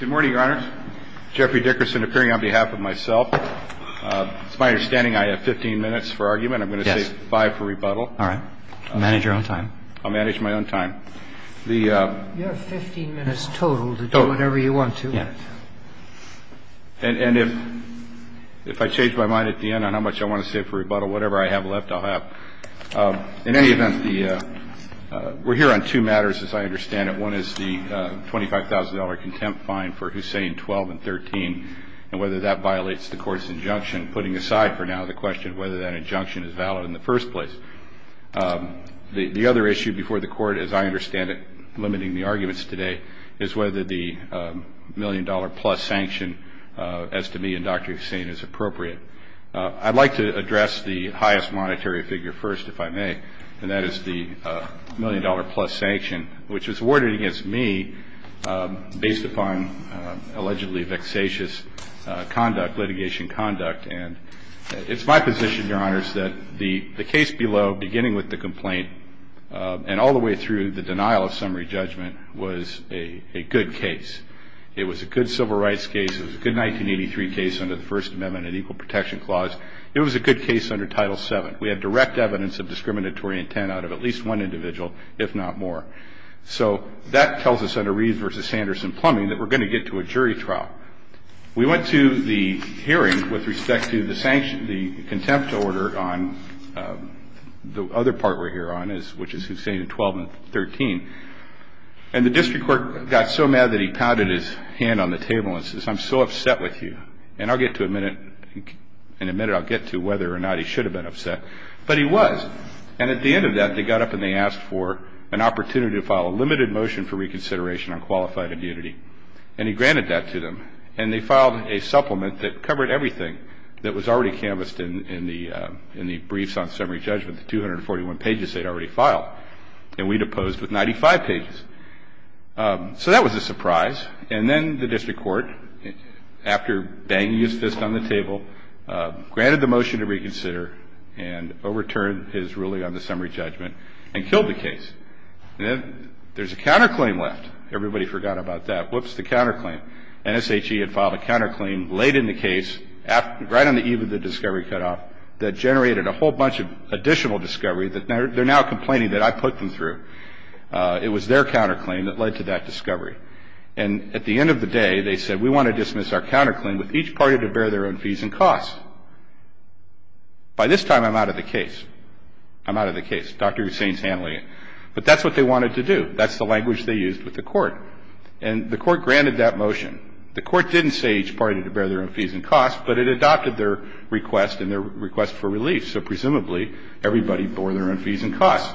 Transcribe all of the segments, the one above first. Good morning, Your Honors. Jeffrey Dickerson appearing on behalf of myself. It's my understanding I have 15 minutes for argument. I'm going to save five for rebuttal. All right. Manage your own time. I'll manage my own time. You have 15 minutes total to do whatever you want to. Yeah. And if I change my mind at the end on how much I want to save for rebuttal, whatever I have left, I'll have. In any event, we're here on two matters, as I understand it. One is the $25,000 contempt fine for Hussein, 12 and 13, and whether that violates the court's injunction, putting aside for now the question of whether that injunction is valid in the first place. The other issue before the court, as I understand it, limiting the arguments today, is whether the million-dollar-plus sanction, as to me and Dr. Hussein, is appropriate. I'd like to address the highest monetary figure first, if I may, and that is the million-dollar-plus sanction, which was awarded against me based upon allegedly vexatious conduct, litigation conduct. And it's my position, Your Honors, that the case below, beginning with the complaint and all the way through the denial of summary judgment, was a good case. It was a good civil rights case. It was a good 1983 case under the First Amendment and Equal Protection Clause. It was a good case under Title VII. We had direct evidence of discriminatory intent out of at least one individual, if not more. So that tells us, under Reed v. Sanderson-Plumbing, that we're going to get to a jury trial. We went to the hearing with respect to the contempt order on the other part we're here on, which is Hussein in 12 and 13. And the district court got so mad that he pounded his hand on the table and says, I'm so upset with you, and in a minute I'll get to whether or not he should have been upset. But he was. And at the end of that, they got up and they asked for an opportunity to file a limited motion for reconsideration on qualified immunity. And he granted that to them. And they filed a supplement that covered everything that was already canvassed in the briefs on summary judgment, with 241 pages they'd already filed. And we'd opposed with 95 pages. So that was a surprise. And then the district court, after banging his fist on the table, granted the motion to reconsider and overturned his ruling on the summary judgment and killed the case. And then there's a counterclaim left. Everybody forgot about that. Whoops, the counterclaim. NSHE had filed a counterclaim late in the case, right on the eve of the discovery cutoff, that generated a whole bunch of additional discovery that they're now complaining that I put them through. It was their counterclaim that led to that discovery. And at the end of the day, they said, we want to dismiss our counterclaim with each party to bear their own fees and costs. By this time, I'm out of the case. I'm out of the case. Dr. Hussain's handling it. But that's what they wanted to do. That's the language they used with the court. And the court granted that motion. The court didn't say each party to bear their own fees and costs, but it adopted their request and their request for relief. So presumably, everybody bore their own fees and costs.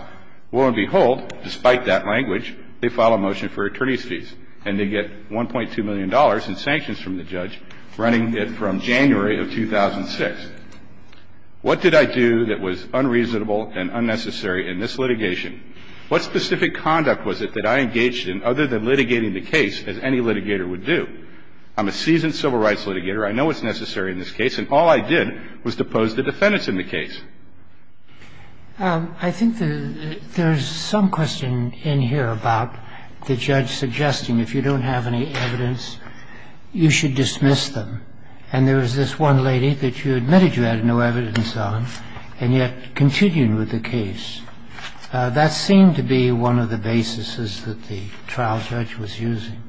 Lo and behold, despite that language, they file a motion for attorney's fees. And they get $1.2 million in sanctions from the judge, running it from January of 2006. What did I do that was unreasonable and unnecessary in this litigation? What specific conduct was it that I engaged in, other than litigating the case, as any litigator would do? I'm a seasoned civil rights litigator. I know what's necessary in this case. And all I did was depose the defendants in the case. I think there's some question in here about the judge suggesting if you don't have any evidence, you should dismiss them. And there was this one lady that you admitted you had no evidence on, and yet continued with the case. That seemed to be one of the basis that the trial judge was using.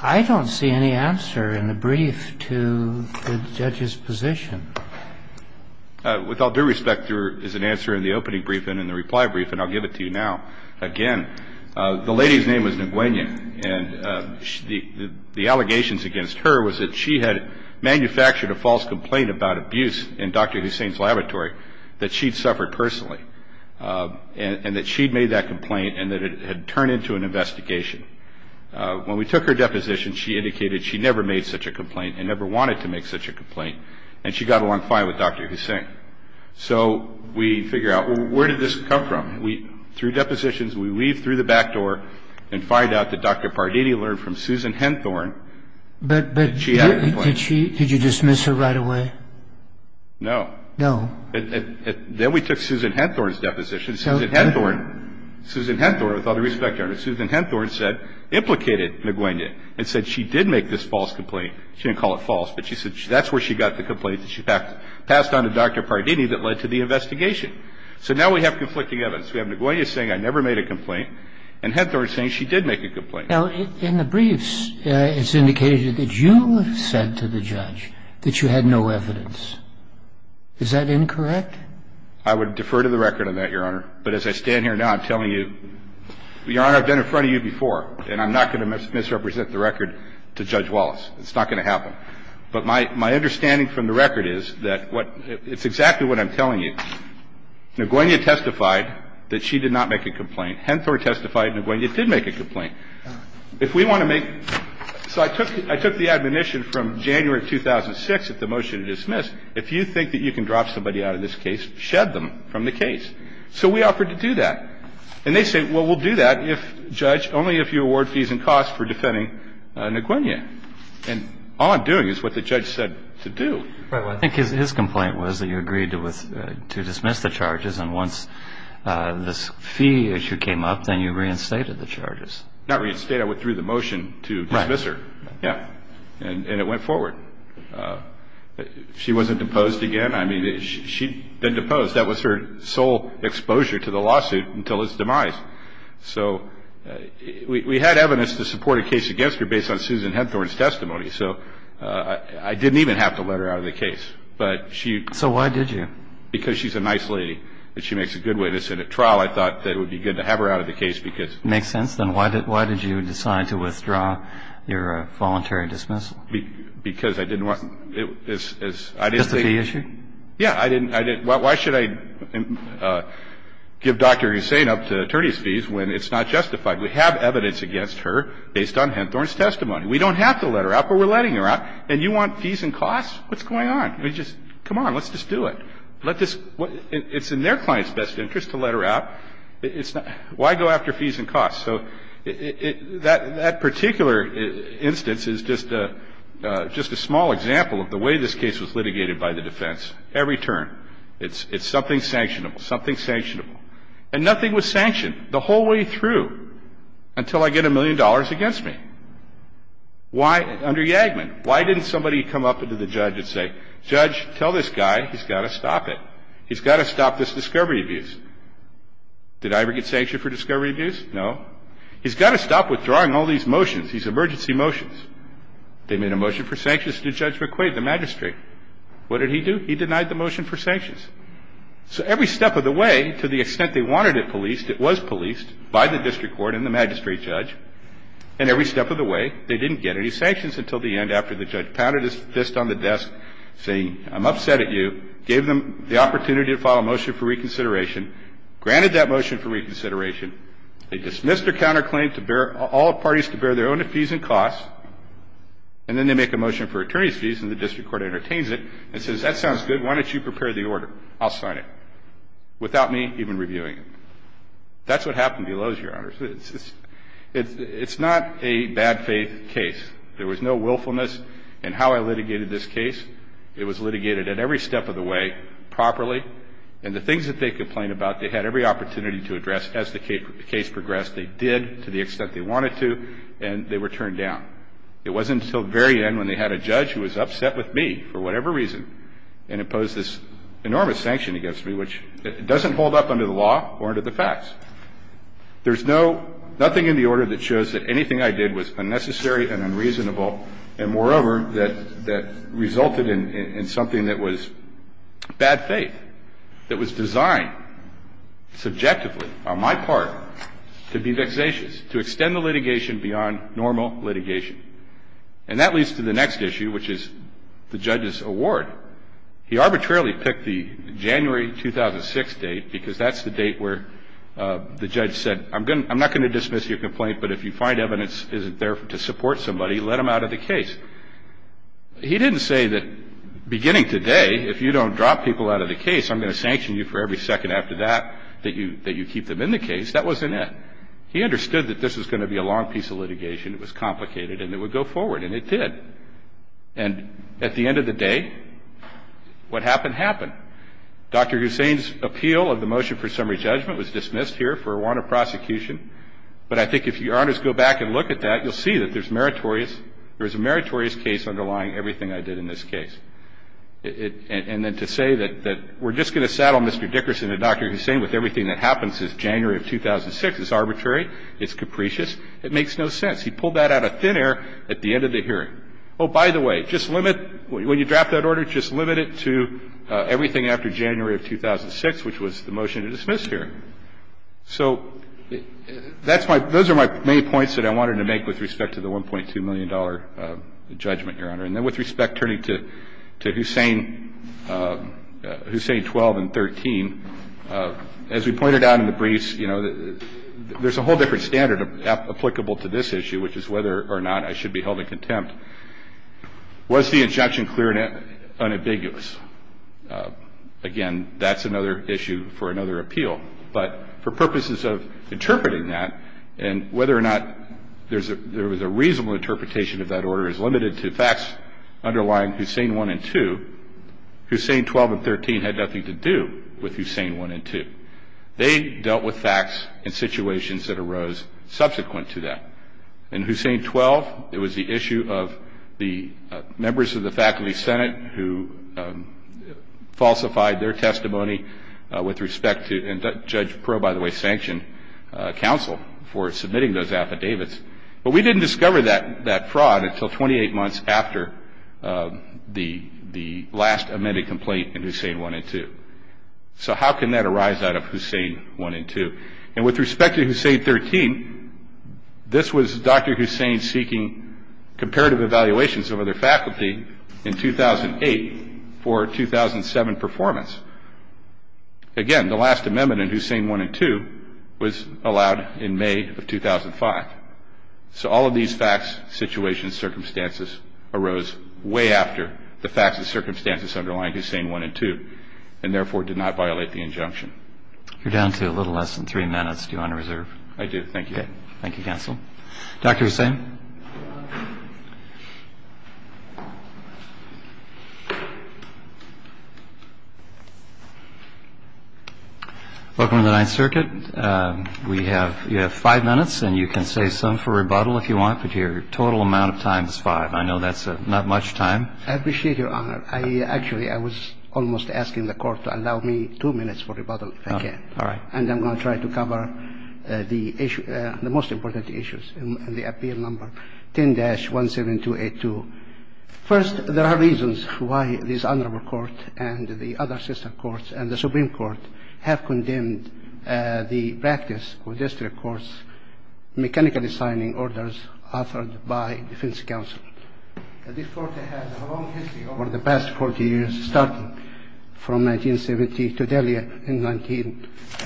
I don't see any answer in the brief to the judge's position. With all due respect, there is an answer in the opening brief and in the reply brief, and I'll give it to you now. Again, the lady's name was Nguyen. And the allegations against her was that she had manufactured a false complaint about abuse in Dr. Hussein's laboratory that she'd suffered personally, and that she'd made that complaint and that it had turned into an investigation. When we took her deposition, she indicated she never made such a complaint and never wanted to make such a complaint, and she got along fine with Dr. Hussein. So we figure out, well, where did this come from? Through depositions, we weave through the back door and find out that Dr. Pardini learned from Susan Henthorne that she had a complaint. But did she – did you dismiss her right away? No. Then we took Susan Henthorne's deposition. Susan Henthorne – Susan Henthorne, with all due respect, Your Honor, Susan Henthorne said – implicated Nguyen and said she did make this false complaint. She didn't call it false, but she said that's where she got the complaint that she passed on to Dr. Pardini that led to the investigation. So now we have conflicting evidence. We have Nguyen saying, I never made a complaint, and Henthorne saying she did make a complaint. Now, in the briefs, it's indicated that you said to the judge that you had no evidence. Is that incorrect? I would defer to the record on that, Your Honor. But as I stand here now, I'm telling you, Your Honor, I've been in front of you before, and I'm not going to misrepresent the record to Judge Wallace. It's not going to happen. But my – my understanding from the record is that what – it's exactly what I'm telling you. Nguyen testified that she did not make a complaint. Henthorne testified Nguyen did make a complaint. If we want to make – so I took – I took the admonition from January of 2006 at the motion to dismiss. If you think that you can drop somebody out of this case, shed them from the case. So we offered to do that. And they say, well, we'll do that if – judge, only if you award fees and costs for defending Nguyen. And all I'm doing is what the judge said to do. Right. Well, I think his complaint was that you agreed to dismiss the charges, and once this fee issue came up, then you reinstated the charges. Not reinstate. I went through the motion to dismiss her. Right. Yeah. And it went forward. She wasn't deposed again. I mean, she'd been deposed. That was her sole exposure to the lawsuit until its demise. So we had evidence to support a case against her based on Susan Henthorne's testimony. So I didn't even have to let her out of the case. But she – So why did you? Because she's a nice lady and she makes a good witness. And at trial, I thought that it would be good to have her out of the case because – Makes sense. Then why did you decide to withdraw your voluntary dismissal? Because I didn't want – I didn't think – Just the fee issue? Yeah. I didn't – why should I give Dr. Hussain up to attorney's fees when it's not justified? We have evidence against her based on Henthorne's testimony. We don't have to let her out, but we're letting her out. And you want fees and costs? What's going on? I mean, just come on. Let's just do it. Let this – it's in their client's best interest to let her out. It's not – why go after fees and costs? So that particular instance is just a small example of the way this case was litigated by the defense. Let's just say the judge is going to be in the courtroom, and you're going to have You're going to have a witness. Every turn, it's something sanctionable, something sanctionable. And nothing was sanctioned the whole way through until I get a million dollars against me. Why – under Yagman, why didn't somebody come up to the judge and say, Judge, tell this guy he's got to stop it. He's got to stop this discovery abuse. Did I ever get sanctioned for discovery abuse? No. He's got to stop withdrawing all these motions, these emergency motions. They made a motion for sanctions to Judge McQuaid, the magistrate. What did he do? He denied the motion for sanctions. So every step of the way, to the extent they wanted it policed, it was policed by the district court and the magistrate judge. And every step of the way, they didn't get any sanctions until the end after the judge pounded his fist on the desk, saying, I'm upset at you, gave them the opportunity to file a motion for reconsideration, granted that motion for reconsideration. They dismissed their counterclaim to bear – all parties to bear their own fees and costs. And then they make a motion for attorney's fees, and the district court entertains it and says, that sounds good. Why don't you prepare the order? I'll sign it, without me even reviewing it. That's what happened to the Loews, Your Honors. It's not a bad faith case. There was no willfulness in how I litigated this case. It was litigated at every step of the way properly. And the things that they complained about, they had every opportunity to address as the case progressed. They did, to the extent they wanted to, and they were turned down. It wasn't until the very end when they had a judge who was upset with me for whatever reason and imposed this enormous sanction against me, which doesn't hold up under the law or under the facts. There's no – nothing in the order that shows that anything I did was unnecessary and unreasonable and, moreover, that resulted in something that was bad faith, that was designed subjectively, on my part, to be vexatious, to extend the litigation beyond normal litigation. And that leads to the next issue, which is the judge's award. He arbitrarily picked the January 2006 date because that's the date where the judge said, I'm not going to dismiss your complaint, but if you find evidence isn't there to support somebody, let them out of the case. He didn't say that beginning today, if you don't drop people out of the case, I'm going to sanction you for every second after that, that you keep them in the case. That wasn't it. He understood that this was going to be a long piece of litigation, it was complicated, and it would go forward. And it did. And at the end of the day, what happened happened. Dr. Hussain's appeal of the motion for summary judgment was dismissed here for a warrant of prosecution. But I think if Your Honors go back and look at that, you'll see that there's meritorious – there's a meritorious case underlying everything I did in this case. And then to say that we're just going to saddle Mr. Dickerson and Dr. Hussain with everything that happens since January of 2006 is arbitrary, it's capricious, it makes no sense. He pulled that out of thin air at the end of the hearing. Oh, by the way, just limit – when you draft that order, just limit it to everything after January of 2006, which was the motion to dismiss here. So that's my – those are my main points that I wanted to make with respect to the $1.2 million judgment, Your Honor. And then with respect, turning to – to Hussain – Hussain 12 and 13, as we pointed out in the briefs, you know, there's a whole different standard applicable to this issue, which is whether or not I should be held in contempt. Was the injunction clear and unambiguous? Again, that's another issue for another appeal. But for purposes of interpreting that and whether or not there's a – there was a reasonable interpretation of that order is limited to facts underlying Hussain 1 and 2. Hussain 12 and 13 had nothing to do with Hussain 1 and 2. They dealt with facts and situations that arose subsequent to that. In Hussain 12, it was the issue of the members of the Faculty Senate who falsified their testimony with respect to – and Judge Proe, by the way, sanctioned counsel for submitting those affidavits. But we didn't discover that fraud until 28 months after the last amended complaint in Hussain 1 and 2. So how can that arise out of Hussain 1 and 2? And with respect to Hussain 13, this was Dr. Hussain seeking comparative evaluations over their faculty in 2008 for 2007 performance. Again, the last amendment in Hussain 1 and 2 was allowed in May of 2005. So all of these facts, situations, circumstances arose way after the facts and circumstances underlying Hussain 1 and 2 and, therefore, did not violate the injunction. You're down to a little less than three minutes. Do you want to reserve? I do. Thank you. Thank you, counsel. Dr. Hussain. Welcome to the Ninth Circuit. We have – you have five minutes, and you can save some for rebuttal if you want, but your total amount of time is five. I know that's not much time. I appreciate your honor. I – actually, I was almost asking the Court to allow me two minutes for rebuttal if I can. All right. And I'm going to try to cover the issue – the most important issues in the appeal number one. First, there are reasons why this Honorable Court and the other sister courts and the Supreme Court have condemned the practice of district courts mechanically signing orders authored by defense counsel. This Court has a long history over the past 40 years, starting from 1970 to earlier in 19 –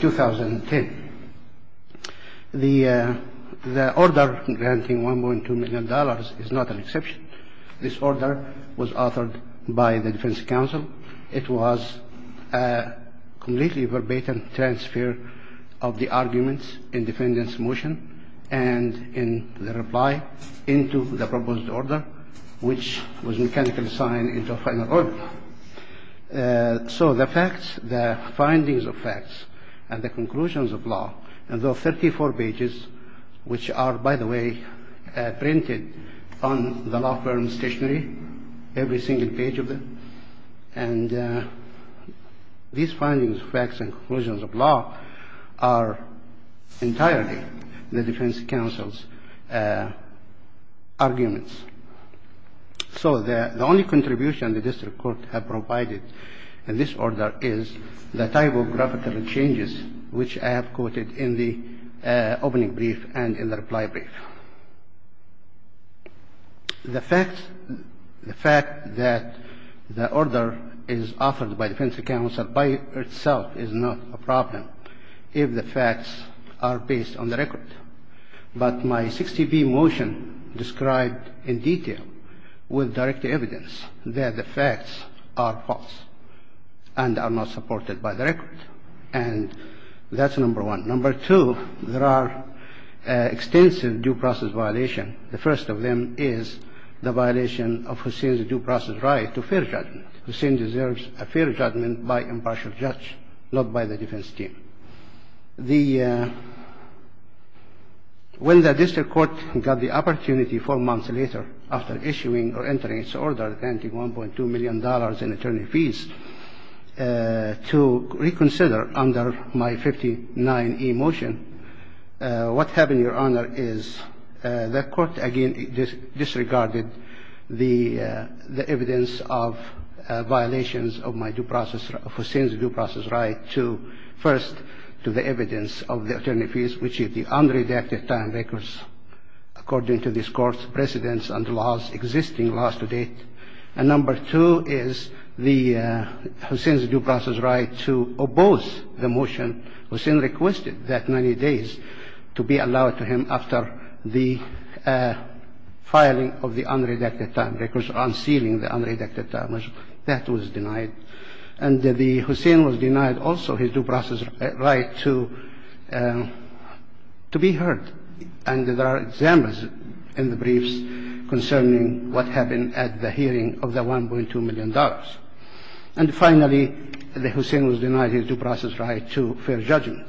2010. The order granting $1.2 million is not an exception. This order was authored by the defense counsel. It was a completely verbatim transfer of the arguments in defendant's motion and in the reply into the proposed order, which was mechanically signed into a final order. So the facts, the findings of facts, and the conclusions of law, and those 34 pages, which are, by the way, printed on the law firm's stationery, every single page of them. And these findings, facts, and conclusions of law are entirely the defense counsel's arguments. So the only contribution the district court have provided in this order is the typographical changes, which I have quoted in the opening brief and in the reply brief. The fact that the order is authored by defense counsel by itself is not a problem if the facts are based on the record. But my 60B motion described in detail with direct evidence that the facts are false and are not supported by the record. And that's number one. Number two, there are extensive due process violations. The first of them is the violation of Hussein's due process right to fair judgment. Hussein deserves a fair judgment by impartial judge, not by the defense team. When the district court got the opportunity four months later after issuing or entering its order granting $1.2 million in attorney fees to reconsider under my 59E motion, what happened, Your Honor, is the court again disregarded the evidence of violations of my due process, of Hussein's due process right to, first, to the evidence of the attorney fees, which is the unredacted time records according to this court's precedence under existing laws to date. And number two is Hussein's due process right to oppose the motion. Hussein requested that 90 days to be allowed to him after the filing of the unredacted time records, unsealing the unredacted time records. That was denied. And the Hussein was denied also his due process right to be heard. And there are examples in the briefs concerning what happened at the hearing of the $1.2 million. And finally, the Hussein was denied his due process right to fair judgment.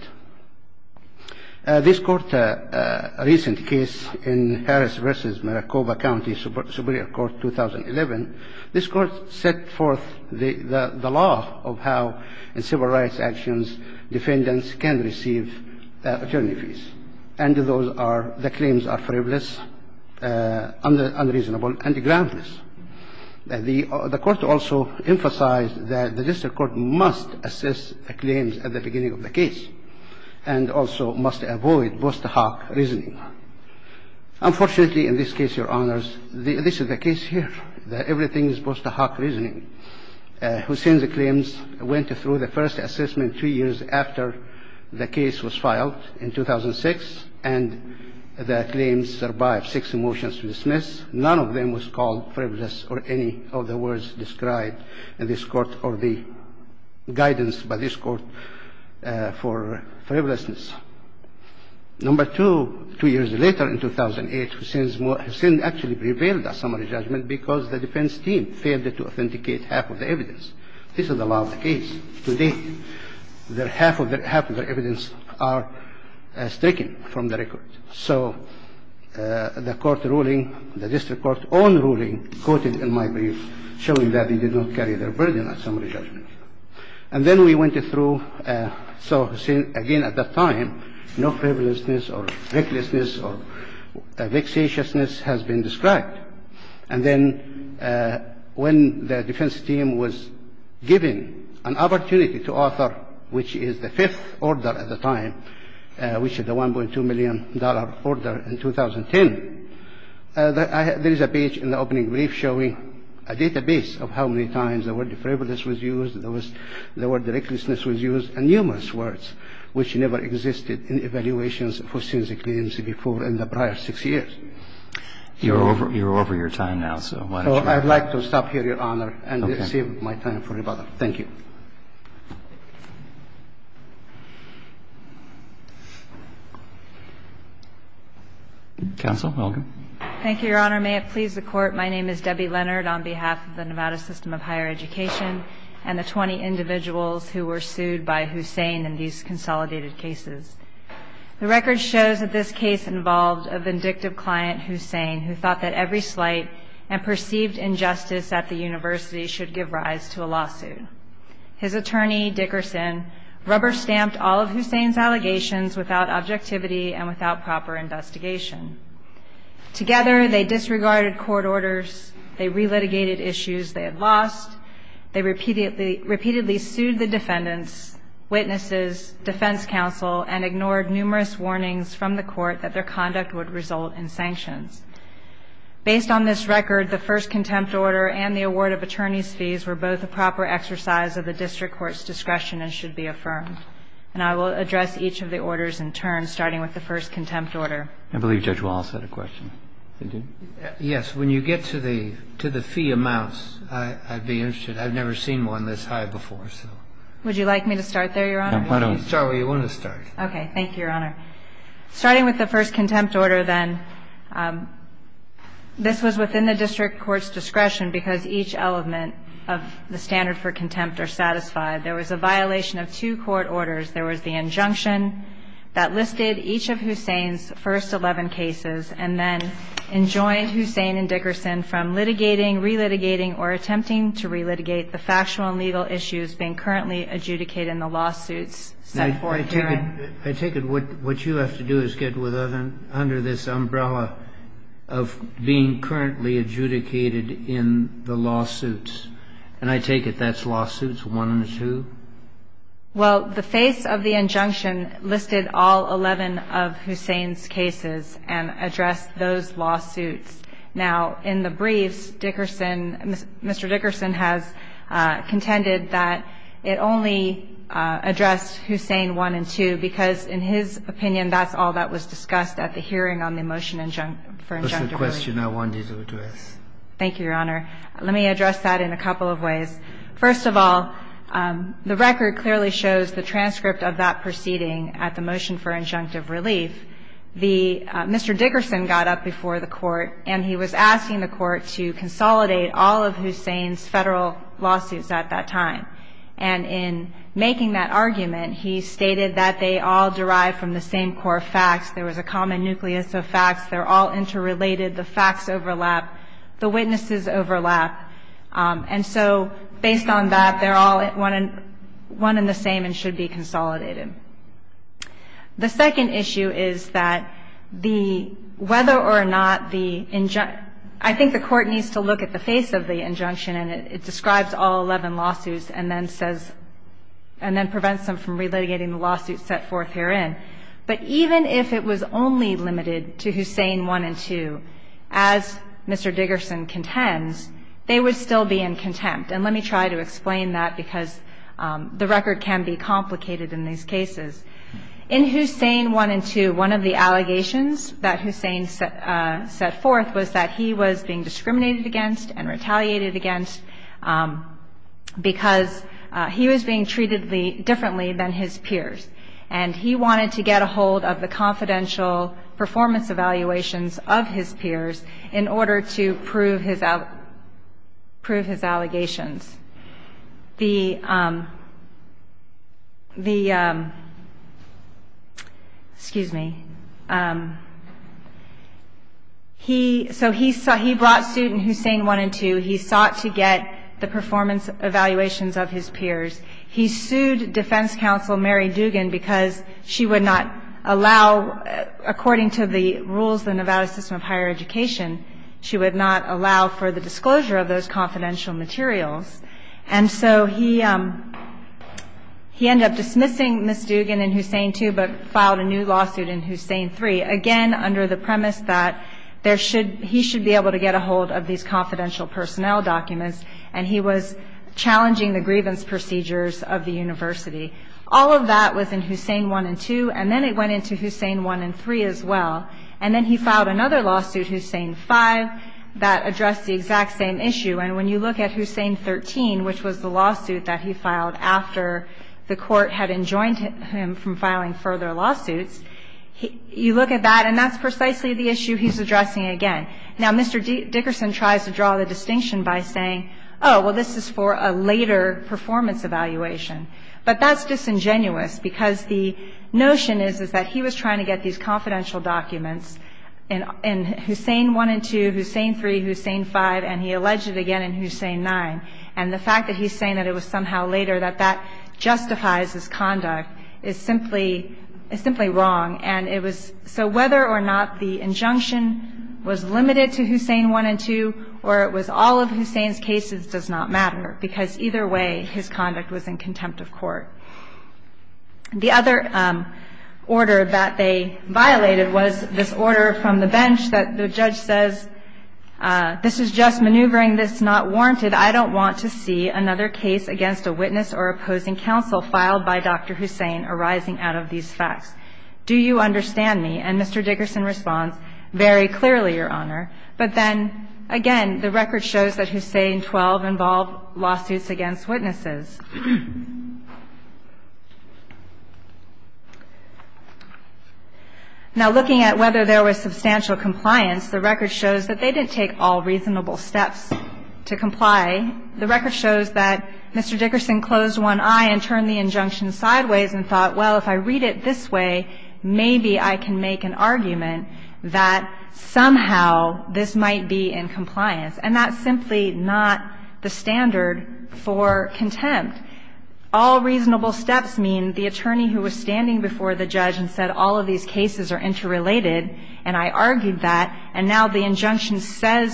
This court, a recent case in Harris v. Maricopa County Superior Court 2011, this court set forth the law of how in civil rights actions defendants can receive attorney fees. And those are the claims are frivolous, unreasonable, and groundless. The court also emphasized that the district court must assess the claims at the beginning of the case and also must avoid Bostahak reasoning. Unfortunately, in this case, Your Honors, this is the case here, that everything is Bostahak reasoning. Hussein's claims went through the first assessment two years after the case was filed in 2006, and the claims survived six motions to dismiss. None of them was called frivolous or any of the words described in this court or the guidance by this court for frivolousness. Number two, two years later in 2008, Hussein actually prevailed at summary judgment because the defense team failed to authenticate half of the evidence. This is the law of the case. To date, half of the evidence are stricken from the record. So the court ruling, the district court's own ruling, quoted in my brief, showing that they did not carry their burden at summary judgment. And then we went through. So Hussein, again, at that time, no frivolousness or recklessness or vexatiousness has been described. And then when the defense team was given an opportunity to offer, which is the fifth order at the time, which is the $1.2 million order in 2010, there is a page in the opening brief showing a database of how many times the word frivolous was used, the word recklessness was used, and numerous words which never existed in evaluations of Hussein's claims before in the prior six years. You're over your time now, so why don't you go ahead. I'd like to stop here, Your Honor, and save my time for another. Thank you. Counsel. Thank you, Your Honor. May it please the Court. My name is Debbie Leonard on behalf of the Nevada System of Higher Education and the 20 individuals who were sued by Hussein in these consolidated cases. The record shows that this case involved a vindictive client, Hussein, who thought that every slight and perceived injustice at the university should give rise to a lawsuit. His attorney, Dickerson, rubber-stamped all of Hussein's allegations without objectivity and without proper investigation. Together, they disregarded court orders, they re-litigated issues they had lost, they repeatedly sued the defendants, witnesses, defense counsel, and ignored numerous warnings from the court that their conduct would result in sanctions. Based on this record, the first contempt order and the award of attorney's fees were both a proper exercise of the district court's discretion and should be affirmed. And I will address each of the orders in turn, starting with the first contempt order. I believe Judge Wallace had a question. Did you? Yes. When you get to the fee amounts, I'd be interested. I've never seen one this high before, so. Would you like me to start there, Your Honor? Start where you want to start. Okay. Thank you, Your Honor. Starting with the first contempt order, then, this was within the district court's discretion because each element of the standard for contempt are satisfied. There was a violation of two court orders. There was the injunction that listed each of Hussein's first 11 cases and then enjoined Hussein and Dickerson from litigating, relitigating, or attempting to relitigate the factual and legal issues being currently adjudicated in the lawsuits set forth herein. Now, I take it what you have to do is get under this umbrella of being currently adjudicated in the lawsuits. And I take it that's lawsuits one and two? Well, the face of the injunction listed all 11 of Hussein's cases and addressed those 11 lawsuits. Now, in the briefs, Dickerson, Mr. Dickerson has contended that it only addressed Hussein one and two because, in his opinion, that's all that was discussed at the hearing on the motion for injunctive relief. That's the question I wanted to address. Thank you, Your Honor. Let me address that in a couple of ways. First of all, the record clearly shows the transcript of that proceeding at the motion for injunctive relief. The Mr. Dickerson got up before the Court, and he was asking the Court to consolidate all of Hussein's Federal lawsuits at that time. And in making that argument, he stated that they all derive from the same core facts. There was a common nucleus of facts. They're all interrelated. The facts overlap. The witnesses overlap. And so based on that, they're all one and the same and should be consolidated. The second issue is that the – whether or not the – I think the Court needs to look at the face of the injunction, and it describes all 11 lawsuits and then says – and then prevents them from relitigating the lawsuits set forth herein. But even if it was only limited to Hussein one and two, as Mr. Dickerson contends, they would still be in contempt. And let me try to explain that because the record can be complicated in these cases. In Hussein one and two, one of the allegations that Hussein set forth was that he was being discriminated against and retaliated against because he was being treated differently than his peers. And he wanted to get a hold of the confidential performance evaluations of his peers in order to prove his allegations. The – excuse me. He – so he brought suit in Hussein one and two. He sought to get the performance evaluations of his peers. He sued Defense Counsel Mary Dugan because she would not allow, according to the rules of the Nevada system of higher education, she would not allow for the disclosure of those confidential materials. And so he ended up dismissing Ms. Dugan in Hussein two, but filed a new lawsuit in Hussein three, again under the premise that there should – he should be able to get a hold of these confidential personnel documents. And he was challenging the grievance procedures of the university. All of that was in Hussein one and two. And then it went into Hussein one and three as well. And then he filed another lawsuit, Hussein five, that addressed the exact same issue. And when you look at Hussein 13, which was the lawsuit that he filed after the court had enjoined him from filing further lawsuits, you look at that and that's precisely the issue he's addressing again. Now, Mr. Dickerson tries to draw the distinction by saying, oh, well, this is for a later performance evaluation. But that's disingenuous because the notion is, is that he was trying to get these confidential documents in Hussein one and two, Hussein three, Hussein five, and he alleged it again in Hussein nine. And the fact that he's saying that it was somehow later, that that justifies his conduct, is simply – is simply wrong. And it was – so whether or not the injunction was limited to Hussein one and two or it was all of Hussein's cases does not matter, because either way his conduct was in contempt of court. The other order that they violated was this order from the bench that the judge says, this is just maneuvering. This is not warranted. I don't want to see another case against a witness or opposing counsel filed by Dr. Hussein arising out of these facts. Do you understand me? And Mr. Dickerson responds, very clearly, Your Honor. But then, again, the record shows that Hussein 12 involved lawsuits against witnesses. Now, looking at whether there was substantial compliance, the record shows that they didn't take all reasonable steps to comply. The record shows that Mr. Dickerson closed one eye and turned the injunction sideways and thought, well, if I read it this way, maybe I can make an argument that somehow this might be in compliance. And that's simply not the standard for contempt. All reasonable steps mean the attorney who was standing before the judge and said, all of these cases are interrelated, and I argued that, and now the injunction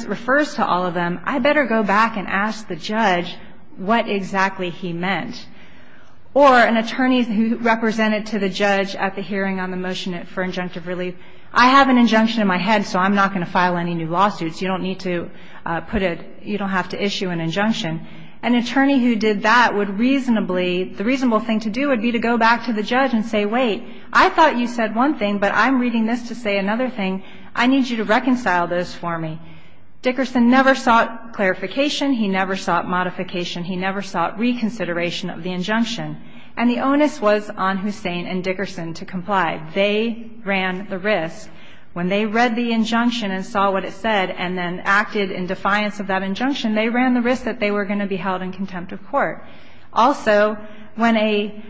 refers to all of them, I better go back and ask the judge what exactly he meant. Or an attorney who represented to the judge at the hearing on the motion for injunctive relief, I have an injunction in my head, so I'm not going to file any new lawsuits. You don't need to put a you don't have to issue an injunction. An attorney who did that would reasonably, the reasonable thing to do would be to go back to the judge and say, wait, I thought you said one thing, but I'm reading this to say another thing. I need you to reconcile this for me. Dickerson never sought clarification. He never sought modification. He never sought reconsideration of the injunction. And the onus was on Hussein and Dickerson to comply. They ran the risk. When they read the injunction and saw what it said and then acted in defiance of that injunction, they ran the risk that they were going to be held in contempt of court. Also, when a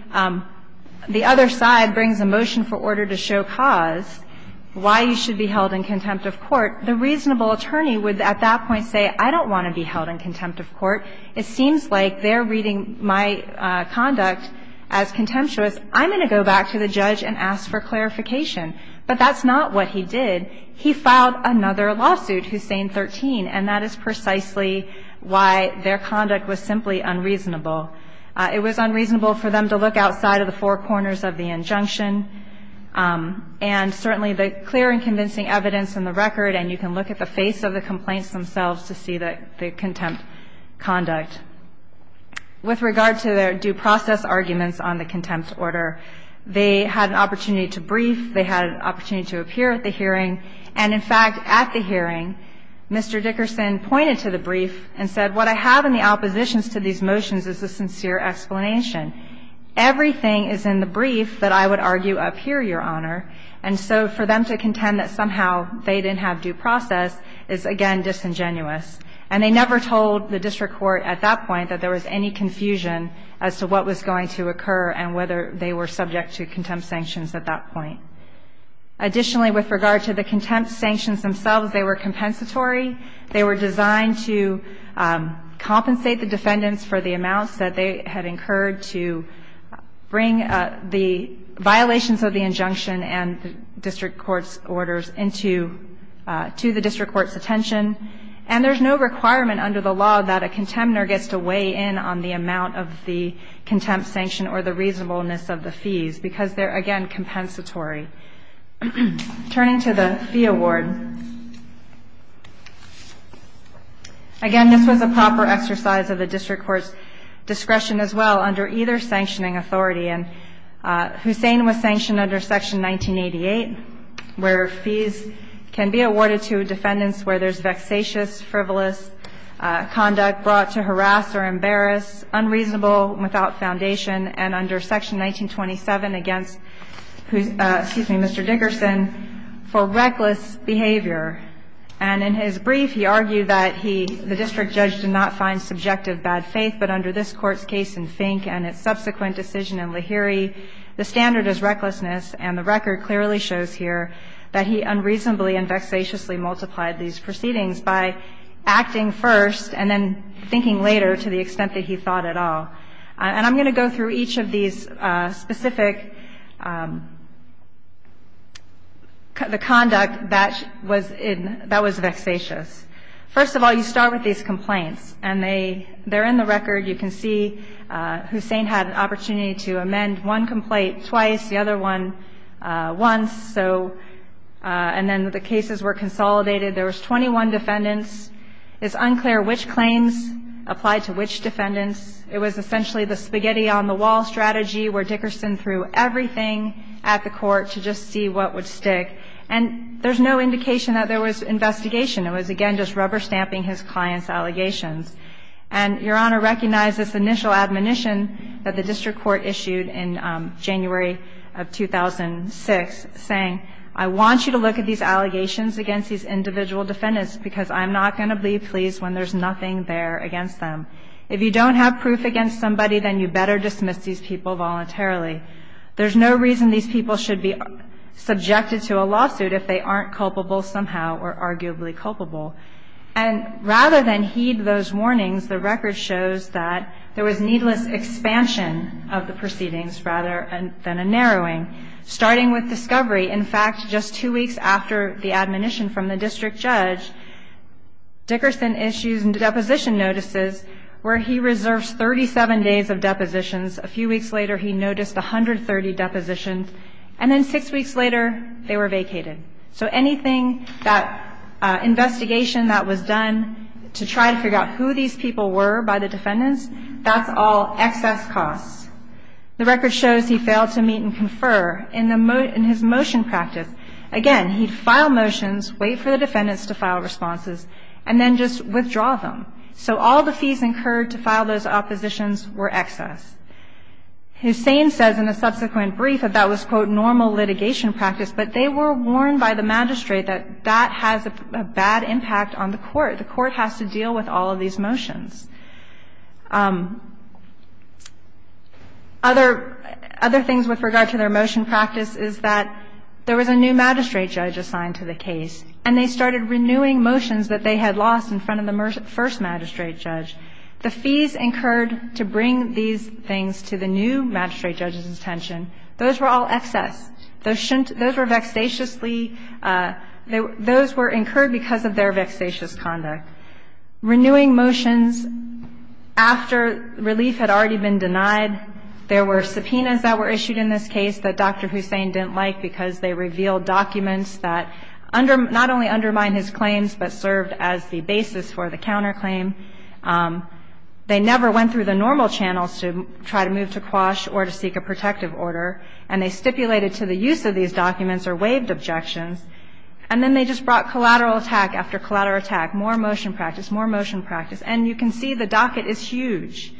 the other side brings a motion for order to show cause why you should be held in contempt of court, the reasonable attorney would at that point say, I don't want to be held in contempt of court. It seems like they're reading my conduct as contemptuous. I'm going to go back to the judge and ask for clarification. But that's not what he did. He filed another lawsuit, Hussein 13, and that is precisely why their conduct was simply unreasonable. It was unreasonable for them to look outside of the four corners of the injunction. And certainly the clear and convincing evidence in the record, and you can look at the face of the complaints themselves to see the contempt conduct. With regard to their due process arguments on the contempt order, they had an opportunity to brief. They had an opportunity to appear at the hearing. And in fact, at the hearing, Mr. Dickerson pointed to the brief and said, what I have in the oppositions to these motions is a sincere explanation. Everything is in the brief that I would argue up here, Your Honor. And so for them to contend that somehow they didn't have due process is, again, disingenuous. And they never told the district court at that point that there was any confusion as to what was going to occur and whether they were subject to contempt sanctions at that point. Additionally, with regard to the contempt sanctions themselves, they were compensatory. They were designed to compensate the defendants for the amounts that they had incurred to bring the violations of the injunction and the district court's orders into the district court's attention. And there's no requirement under the law that a contender gets to weigh in on the amount of the contempt sanction or the reasonableness of the fees because they're, again, compensatory. Turning to the fee award, again, this was a proper exercise of the district court's discretion as well under either sanctioning authority. And Hussein was sanctioned under Section 1988, where fees can be awarded to defendants where there's vexatious, frivolous conduct brought to harass or embarrass, unreasonable without foundation, and under Section 1927 against, excuse me, Mr. Dickerson for reckless behavior. And in his brief, he argued that he, the district judge, did not find subjective bad faith, but under this Court's case in Fink and its subsequent decision in Lahiri, the standard is recklessness, and the record clearly shows here that he unreasonably and vexatiously multiplied these proceedings by acting first and then thinking later to the extent that he thought at all. And I'm going to go through each of these specific, the conduct that was in, that was vexatious. First of all, you start with these complaints. And they're in the record. You can see Hussein had an opportunity to amend one complaint twice, the other one once. So, and then the cases were consolidated. There was 21 defendants. It's unclear which claims applied to which defendants. It was essentially the spaghetti-on-the-wall strategy where Dickerson threw everything at the Court to just see what would stick. And there's no indication that there was investigation. It was, again, just rubber-stamping his client's allegations. And Your Honor, recognize this initial admonition that the district court issued in January of 2006 saying, I want you to look at these allegations against these individual defendants because I'm not going to be pleased when there's nothing there against them. If you don't have proof against somebody, then you better dismiss these people voluntarily. There's no reason these people should be subjected to a lawsuit if they aren't culpable somehow or arguably culpable. And rather than heed those warnings, the record shows that there was needless expansion of the proceedings rather than a narrowing, starting with discovery. In fact, just two weeks after the admonition from the district judge, Dickerson issues deposition notices where he reserves 37 days of depositions. A few weeks later, he noticed 130 depositions. And then six weeks later, they were vacated. So anything that investigation that was done to try to figure out who these people were by the defendants, that's all excess costs. The record shows he failed to meet and confer in his motion practice. Again, he'd file motions, wait for the defendants to file responses, and then just withdraw them. So all the fees incurred to file those oppositions were excess. Hussain says in a subsequent brief that that was, quote, normal litigation practice, but they were warned by the magistrate that that has a bad impact on the court. The court has to deal with all of these motions. Other things with regard to their motion practice is that there was a new magistrate judge assigned to the case, and they started renewing motions that they had lost in front of the first magistrate judge. The fees incurred to bring these things to the new magistrate judge's attention, those were all excess. Those were vexatiously – those were incurred because of their vexatious conduct. Renewing motions after relief had already been denied. There were subpoenas that were issued in this case that Dr. Hussain didn't like because they revealed documents that not only undermined his claims but served as the basis for the counterclaim. They never went through the normal channels to try to move to quash or to seek a protective order. And they stipulated to the use of these documents or waived objections, and then they just brought collateral attack after collateral attack, more motion practice, more motion practice. And you can see the docket is huge.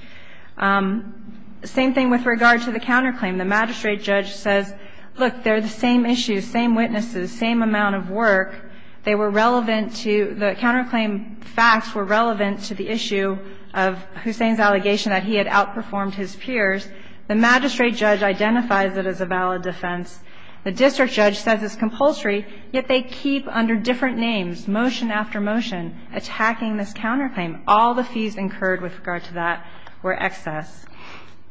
Same thing with regard to the counterclaim. The magistrate judge says, look, they're the same issues, same witnesses, same amount of work. They were relevant to – the counterclaim facts were relevant to the issue of Hussain's allegation that he had outperformed his peers. The magistrate judge identifies it as a valid defense. The district judge says it's compulsory, yet they keep under different names, motion after motion, attacking this counterclaim. All the fees incurred with regard to that were excess.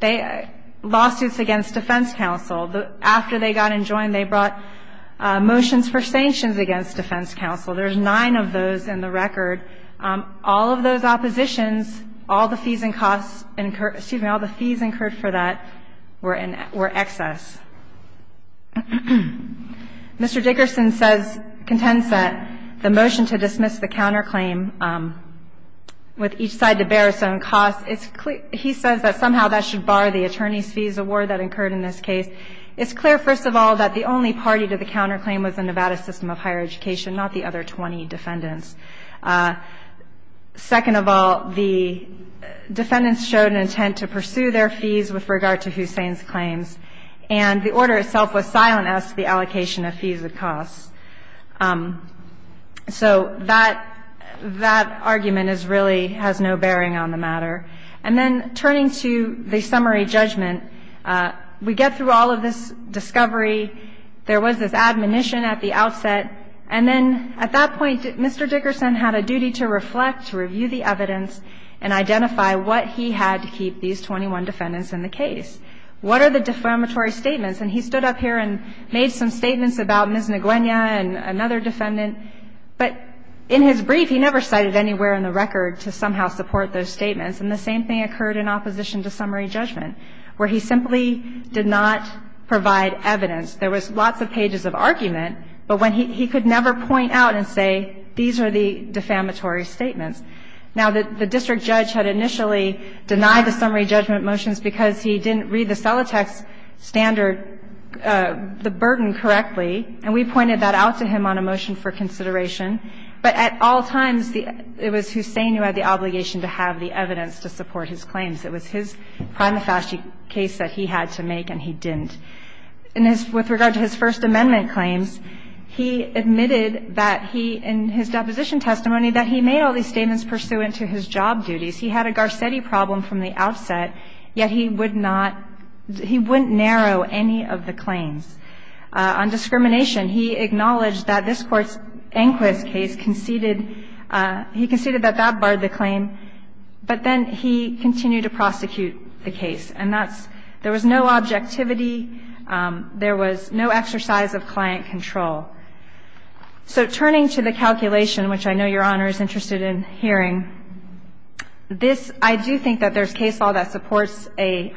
They – lawsuits against defense counsel. After they got enjoined, they brought motions for sanctions against defense counsel. There's nine of those in the record. All of those oppositions, all the fees and costs incurred – excuse me, all the fees incurred for that were in – were excess. Mr. Dickerson says – contends that the motion to dismiss the counterclaim with each side to bear its own costs, it's – he says that somehow that should bar the attorney's fees award that occurred in this case. It's clear, first of all, that the only party to the counterclaim was the Nevada system of higher education, not the other 20 defendants. Second of all, the defendants showed an intent to pursue their fees with regard to Hussein's claims, and the order itself was silent as to the allocation of fees and costs. So that – that argument is really – has no bearing on the matter. And then turning to the summary judgment, we get through all of this discovery. There was this admonition at the outset. And then at that point, Mr. Dickerson had a duty to reflect, to review the evidence and identify what he had to keep these 21 defendants in the case. What are the defamatory statements? And he stood up here and made some statements about Ms. Nguyenia and another defendant. But in his brief, he never cited anywhere in the record to somehow support those statements. And the same thing occurred in opposition to summary judgment, where he simply did not provide evidence. There was lots of pages of argument, but when he – he could never point out and say, these are the defamatory statements. Now, the district judge had initially denied the summary judgment motions because he didn't read the Celotex standard – the burden correctly, and we pointed that out to him on a motion for consideration. But at all times, it was Hussein who had the obligation to have the evidence to support his claims. It was his prima facie case that he had to make, and he didn't. In his – with regard to his First Amendment claims, he admitted that he – in his deposition testimony, that he made all these statements pursuant to his job duties. He had a Garcetti problem from the outset, yet he would not – he wouldn't narrow any of the claims. On discrimination, he acknowledged that this Court's Enquist case conceded – he conceded that that barred the claim, but then he continued to prosecute the case. And that's – there was no objectivity. There was no exercise of client control. So turning to the calculation, which I know Your Honor is interested in hearing, this – I do think that there's case law that supports a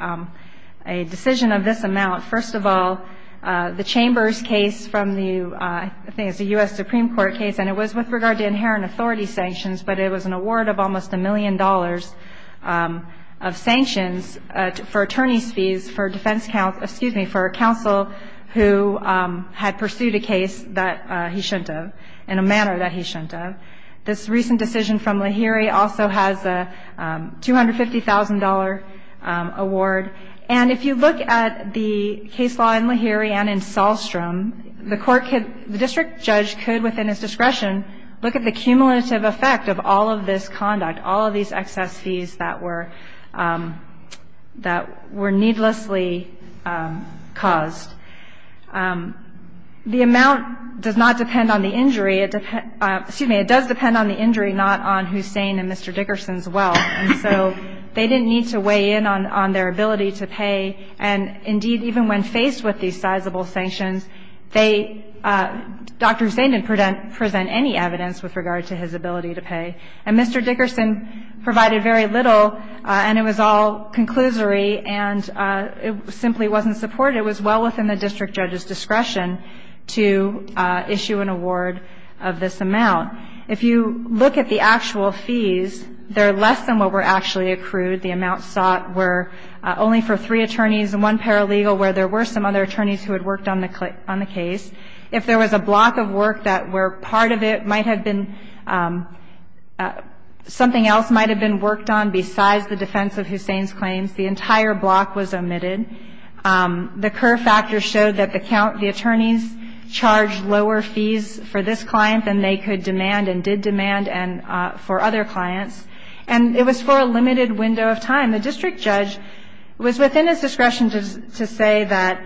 decision of this amount. First of all, the Chambers case from the – I think it's a U.S. Supreme Court case, and it was with regard to inherent authority sanctions, but it was an award of almost a million dollars of sanctions for attorney's fees for defense counsel – excuse me, for counsel who had pursued a case that he shouldn't have in a manner that he shouldn't have. This recent decision from Lahiri also has a $250,000 award. And if you look at the case law in Lahiri and in Sahlstrom, the court could – the district judge could, within his discretion, look at the cumulative effect of all of this conduct, all of these excess fees that were – that were needlessly caused. The amount does not depend on the injury. It – excuse me. It does depend on the injury, not on Hussein and Mr. Dickerson's wealth. And so they didn't need to weigh in on their ability to pay. And, indeed, even when faced with these sizable sanctions, they – Dr. Hussein didn't present any evidence with regard to his ability to pay. And Mr. Dickerson provided very little, and it was all conclusory, and it simply wasn't supported. It was well within the district judge's discretion to issue an award of this amount. If you look at the actual fees, they're less than what were actually accrued. The amounts sought were only for three attorneys and one paralegal where there were some other attorneys who had worked on the case. If there was a block of work that where part of it might have been – something else might have been worked on besides the defense of Hussein's claims, the entire block was omitted. The Kerr factor showed that the count – the attorneys charged lower fees for this client than they could demand and did demand and – for other clients. And it was for a limited window of time. The district judge was within his discretion to say that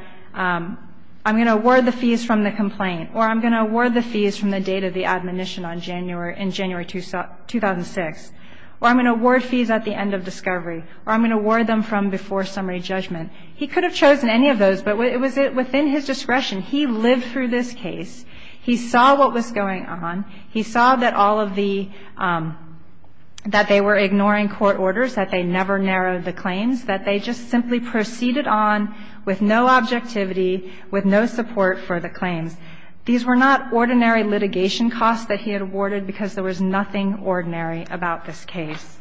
I'm going to award the fees from the complaint, or I'm going to award the fees from the date of the admonition on January – in January 2006, or I'm going to award fees at the end of discovery, or I'm going to award them from before summary judgment. He could have chosen any of those, but it was within his discretion. He lived through this case. He saw what was going on. He saw that all of the – that they were ignoring court orders, that they never narrowed the claims, that they just simply proceeded on with no objectivity, with no support for the claims. These were not ordinary litigation costs that he had awarded because there was nothing ordinary about this case.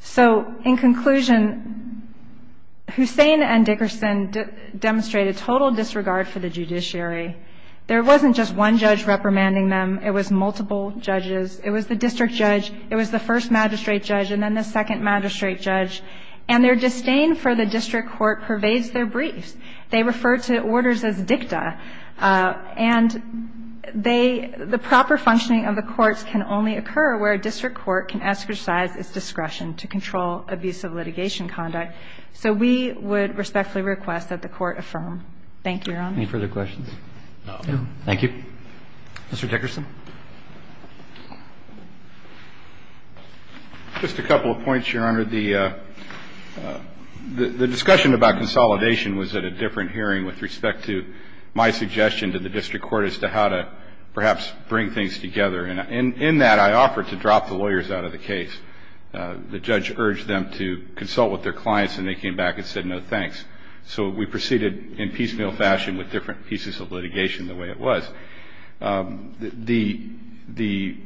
So in conclusion, Hussein and Dickerson demonstrated total disregard for the judiciary. There wasn't just one judge reprimanding them. It was multiple judges. It was the district judge, it was the first magistrate judge, and then the second magistrate judge. And their disdain for the district court pervades their briefs. They refer to orders as dicta. And they – the proper functioning of the courts can only occur where a district court can exercise its discretion to control abusive litigation conduct. So we would respectfully request that the Court affirm. Thank you, Your Honor. Any further questions? No. Thank you. Mr. Dickerson. Just a couple of points, Your Honor. The discussion about consolidation was at a different hearing with respect to my suggestion to the district court as to how to perhaps bring things together. And in that, I offered to drop the lawyers out of the case. The judge urged them to consult with their clients, and they came back and said, no, thanks. So we proceeded in piecemeal fashion with different pieces of litigation the way it was. The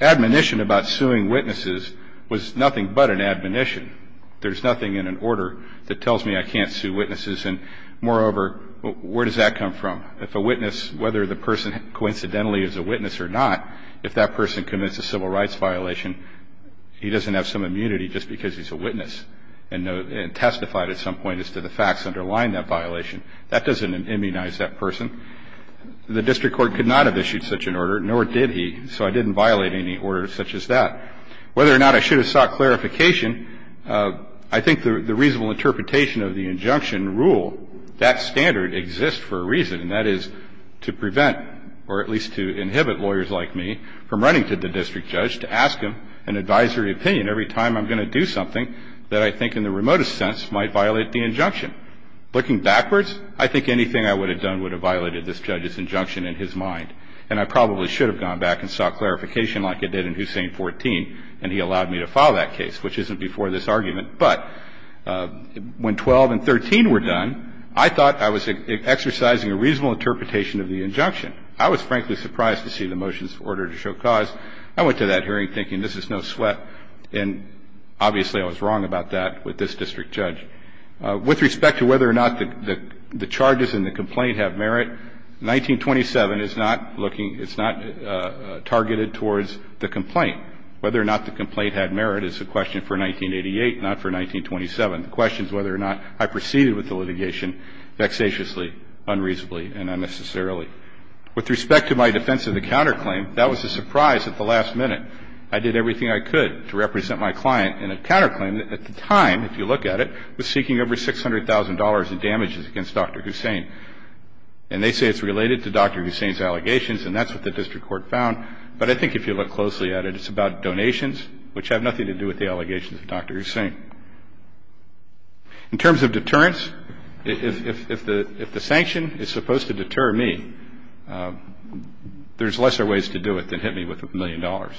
admonition about suing witnesses was nothing but an admonition. There's nothing in an order that tells me I can't sue witnesses. And, moreover, where does that come from? If a witness, whether the person coincidentally is a witness or not, if that person commits a civil rights violation, he doesn't have some immunity just because he's a witness and testified at some point as to the facts underlying that violation. That doesn't immunize that person. The district court could not have issued such an order, nor did he, so I didn't violate any order such as that. Whether or not I should have sought clarification, I think the reasonable interpretation of the injunction rule, that standard exists for a reason, and that is to prevent, or at least to inhibit, lawyers like me from running to the district judge to ask him an advisory opinion every time I'm going to do something that I think in the remotest sense might violate the injunction. Looking backwards, I think anything I would have done would have violated this judge's injunction in his mind. And I probably should have gone back and sought clarification like I did in Hussain 14, and he allowed me to file that case, which isn't before this argument. But when 12 and 13 were done, I thought I was exercising a reasonable interpretation of the injunction. I was, frankly, surprised to see the motions ordered to show cause. I went to that hearing thinking this is no sweat, and obviously I was wrong about that with this district judge. With respect to whether or not the charges in the complaint have merit, 1927 is not looking – it's not targeted towards the complaint. Whether or not the complaint had merit is a question for 1988, not for 1927. The question is whether or not I proceeded with the litigation vexatiously, unreasonably, and unnecessarily. With respect to my defense of the counterclaim, that was a surprise at the last minute. I did everything I could to represent my client in a counterclaim that at the time, if you look at it, was seeking over $600,000 in damages against Dr. Hussain. And they say it's related to Dr. Hussain's allegations, and that's what the district court found. But I think if you look closely at it, it's about donations, which have nothing to do with the allegations of Dr. Hussain. In terms of deterrence, if the sanction is supposed to deter me, there's lesser ways to do it than hit me with a million dollars.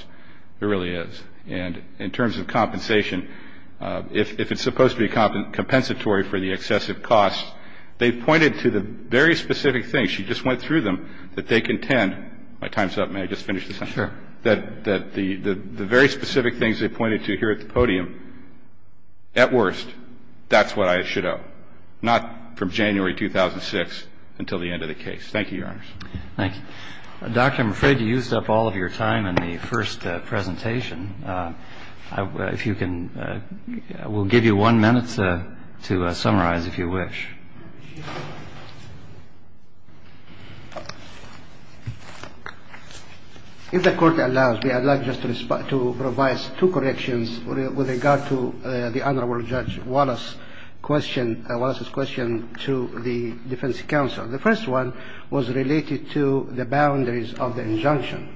There really is. And in terms of compensation, if it's supposed to be compensatory for the excessive costs, they pointed to the very specific things. She just went through them, that they contend. My time's up. May I just finish this up? Sure. That the very specific things they pointed to here at the podium, at worst, that's what I should owe, not from January 2006 until the end of the case. Thank you, Your Honors. Thank you. Doctor, I'm afraid you used up all of your time in the first presentation. If you can, we'll give you one minute to summarize, if you wish. If the Court allows me, I'd like just to provide two corrections with regard to the Honorable Judge Wallace's question to the defense counsel. The first one was related to the boundaries of the injunction.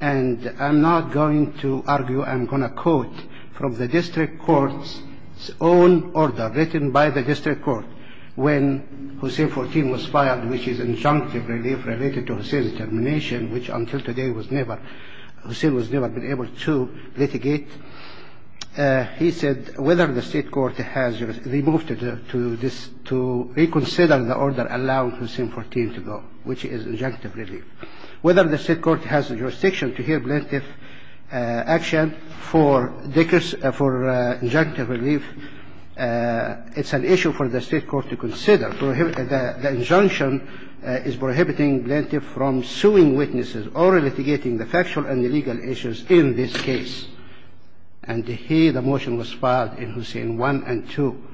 And I'm not going to argue, I'm going to quote from the district court's own order written by the district court when Hussain 14 was filed, which is injunctive relief related to Hussain's termination, which until today, Hussain was never been able to litigate. He said, whether the state court has removed it to reconsider the order allowing Hussain 14 to go, which is injunctive relief. Whether the state court has jurisdiction to hear plaintiff's action for injunctive relief, it's an issue for the state court to consider. The injunction is prohibiting plaintiff from suing witnesses or litigating the factual and legal issues in this case. And he, the motion was filed in Hussain 1 and 2.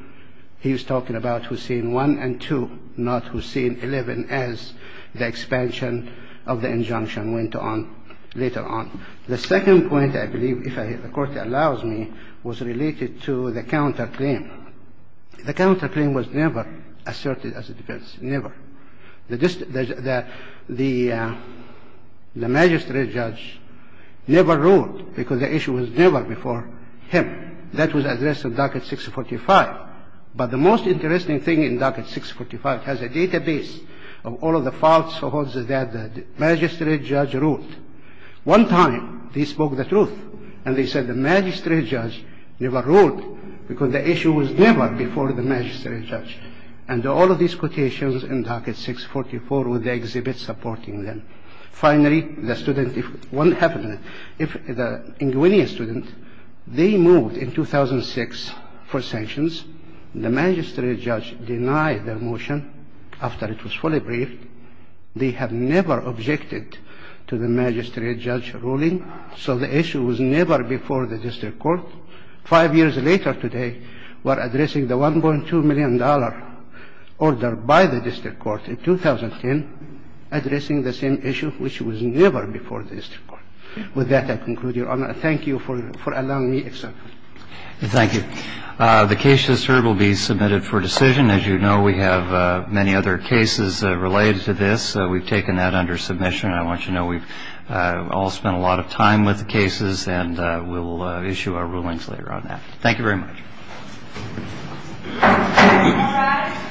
He was talking about Hussain 1 and 2, not Hussain 11 as the expansion of the injunction went on later on. The second point, I believe, if the Court allows me, was related to the counterclaim. The counterclaim was never asserted as a defense, never. The magistrate judge never ruled because the issue was never before him. That was addressed in Docket 645. But the most interesting thing in Docket 645 has a database of all of the falsehoods that the magistrate judge ruled. One time, they spoke the truth, and they said the magistrate judge never ruled because the issue was never before the magistrate judge. And all of these quotations in Docket 644 were the exhibits supporting them. Finally, the student, if what happened, if the inguineous student, they moved in 2006 for sanctions. The magistrate judge denied the motion after it was fully briefed. They have never objected to the magistrate judge ruling, so the issue was never before the district court. Five years later today, we're addressing the $1.2 million order by the district court in 2010, addressing the same issue, which was never before the district court. With that, I conclude, Your Honor. Thank you for allowing me. Thank you. The case just heard will be submitted for decision. As you know, we have many other cases related to this. We've taken that under submission. I want you to know we've all spent a lot of time with the cases, and we'll issue our rulings later on that. Thank you very much. Thank you, Your Honor.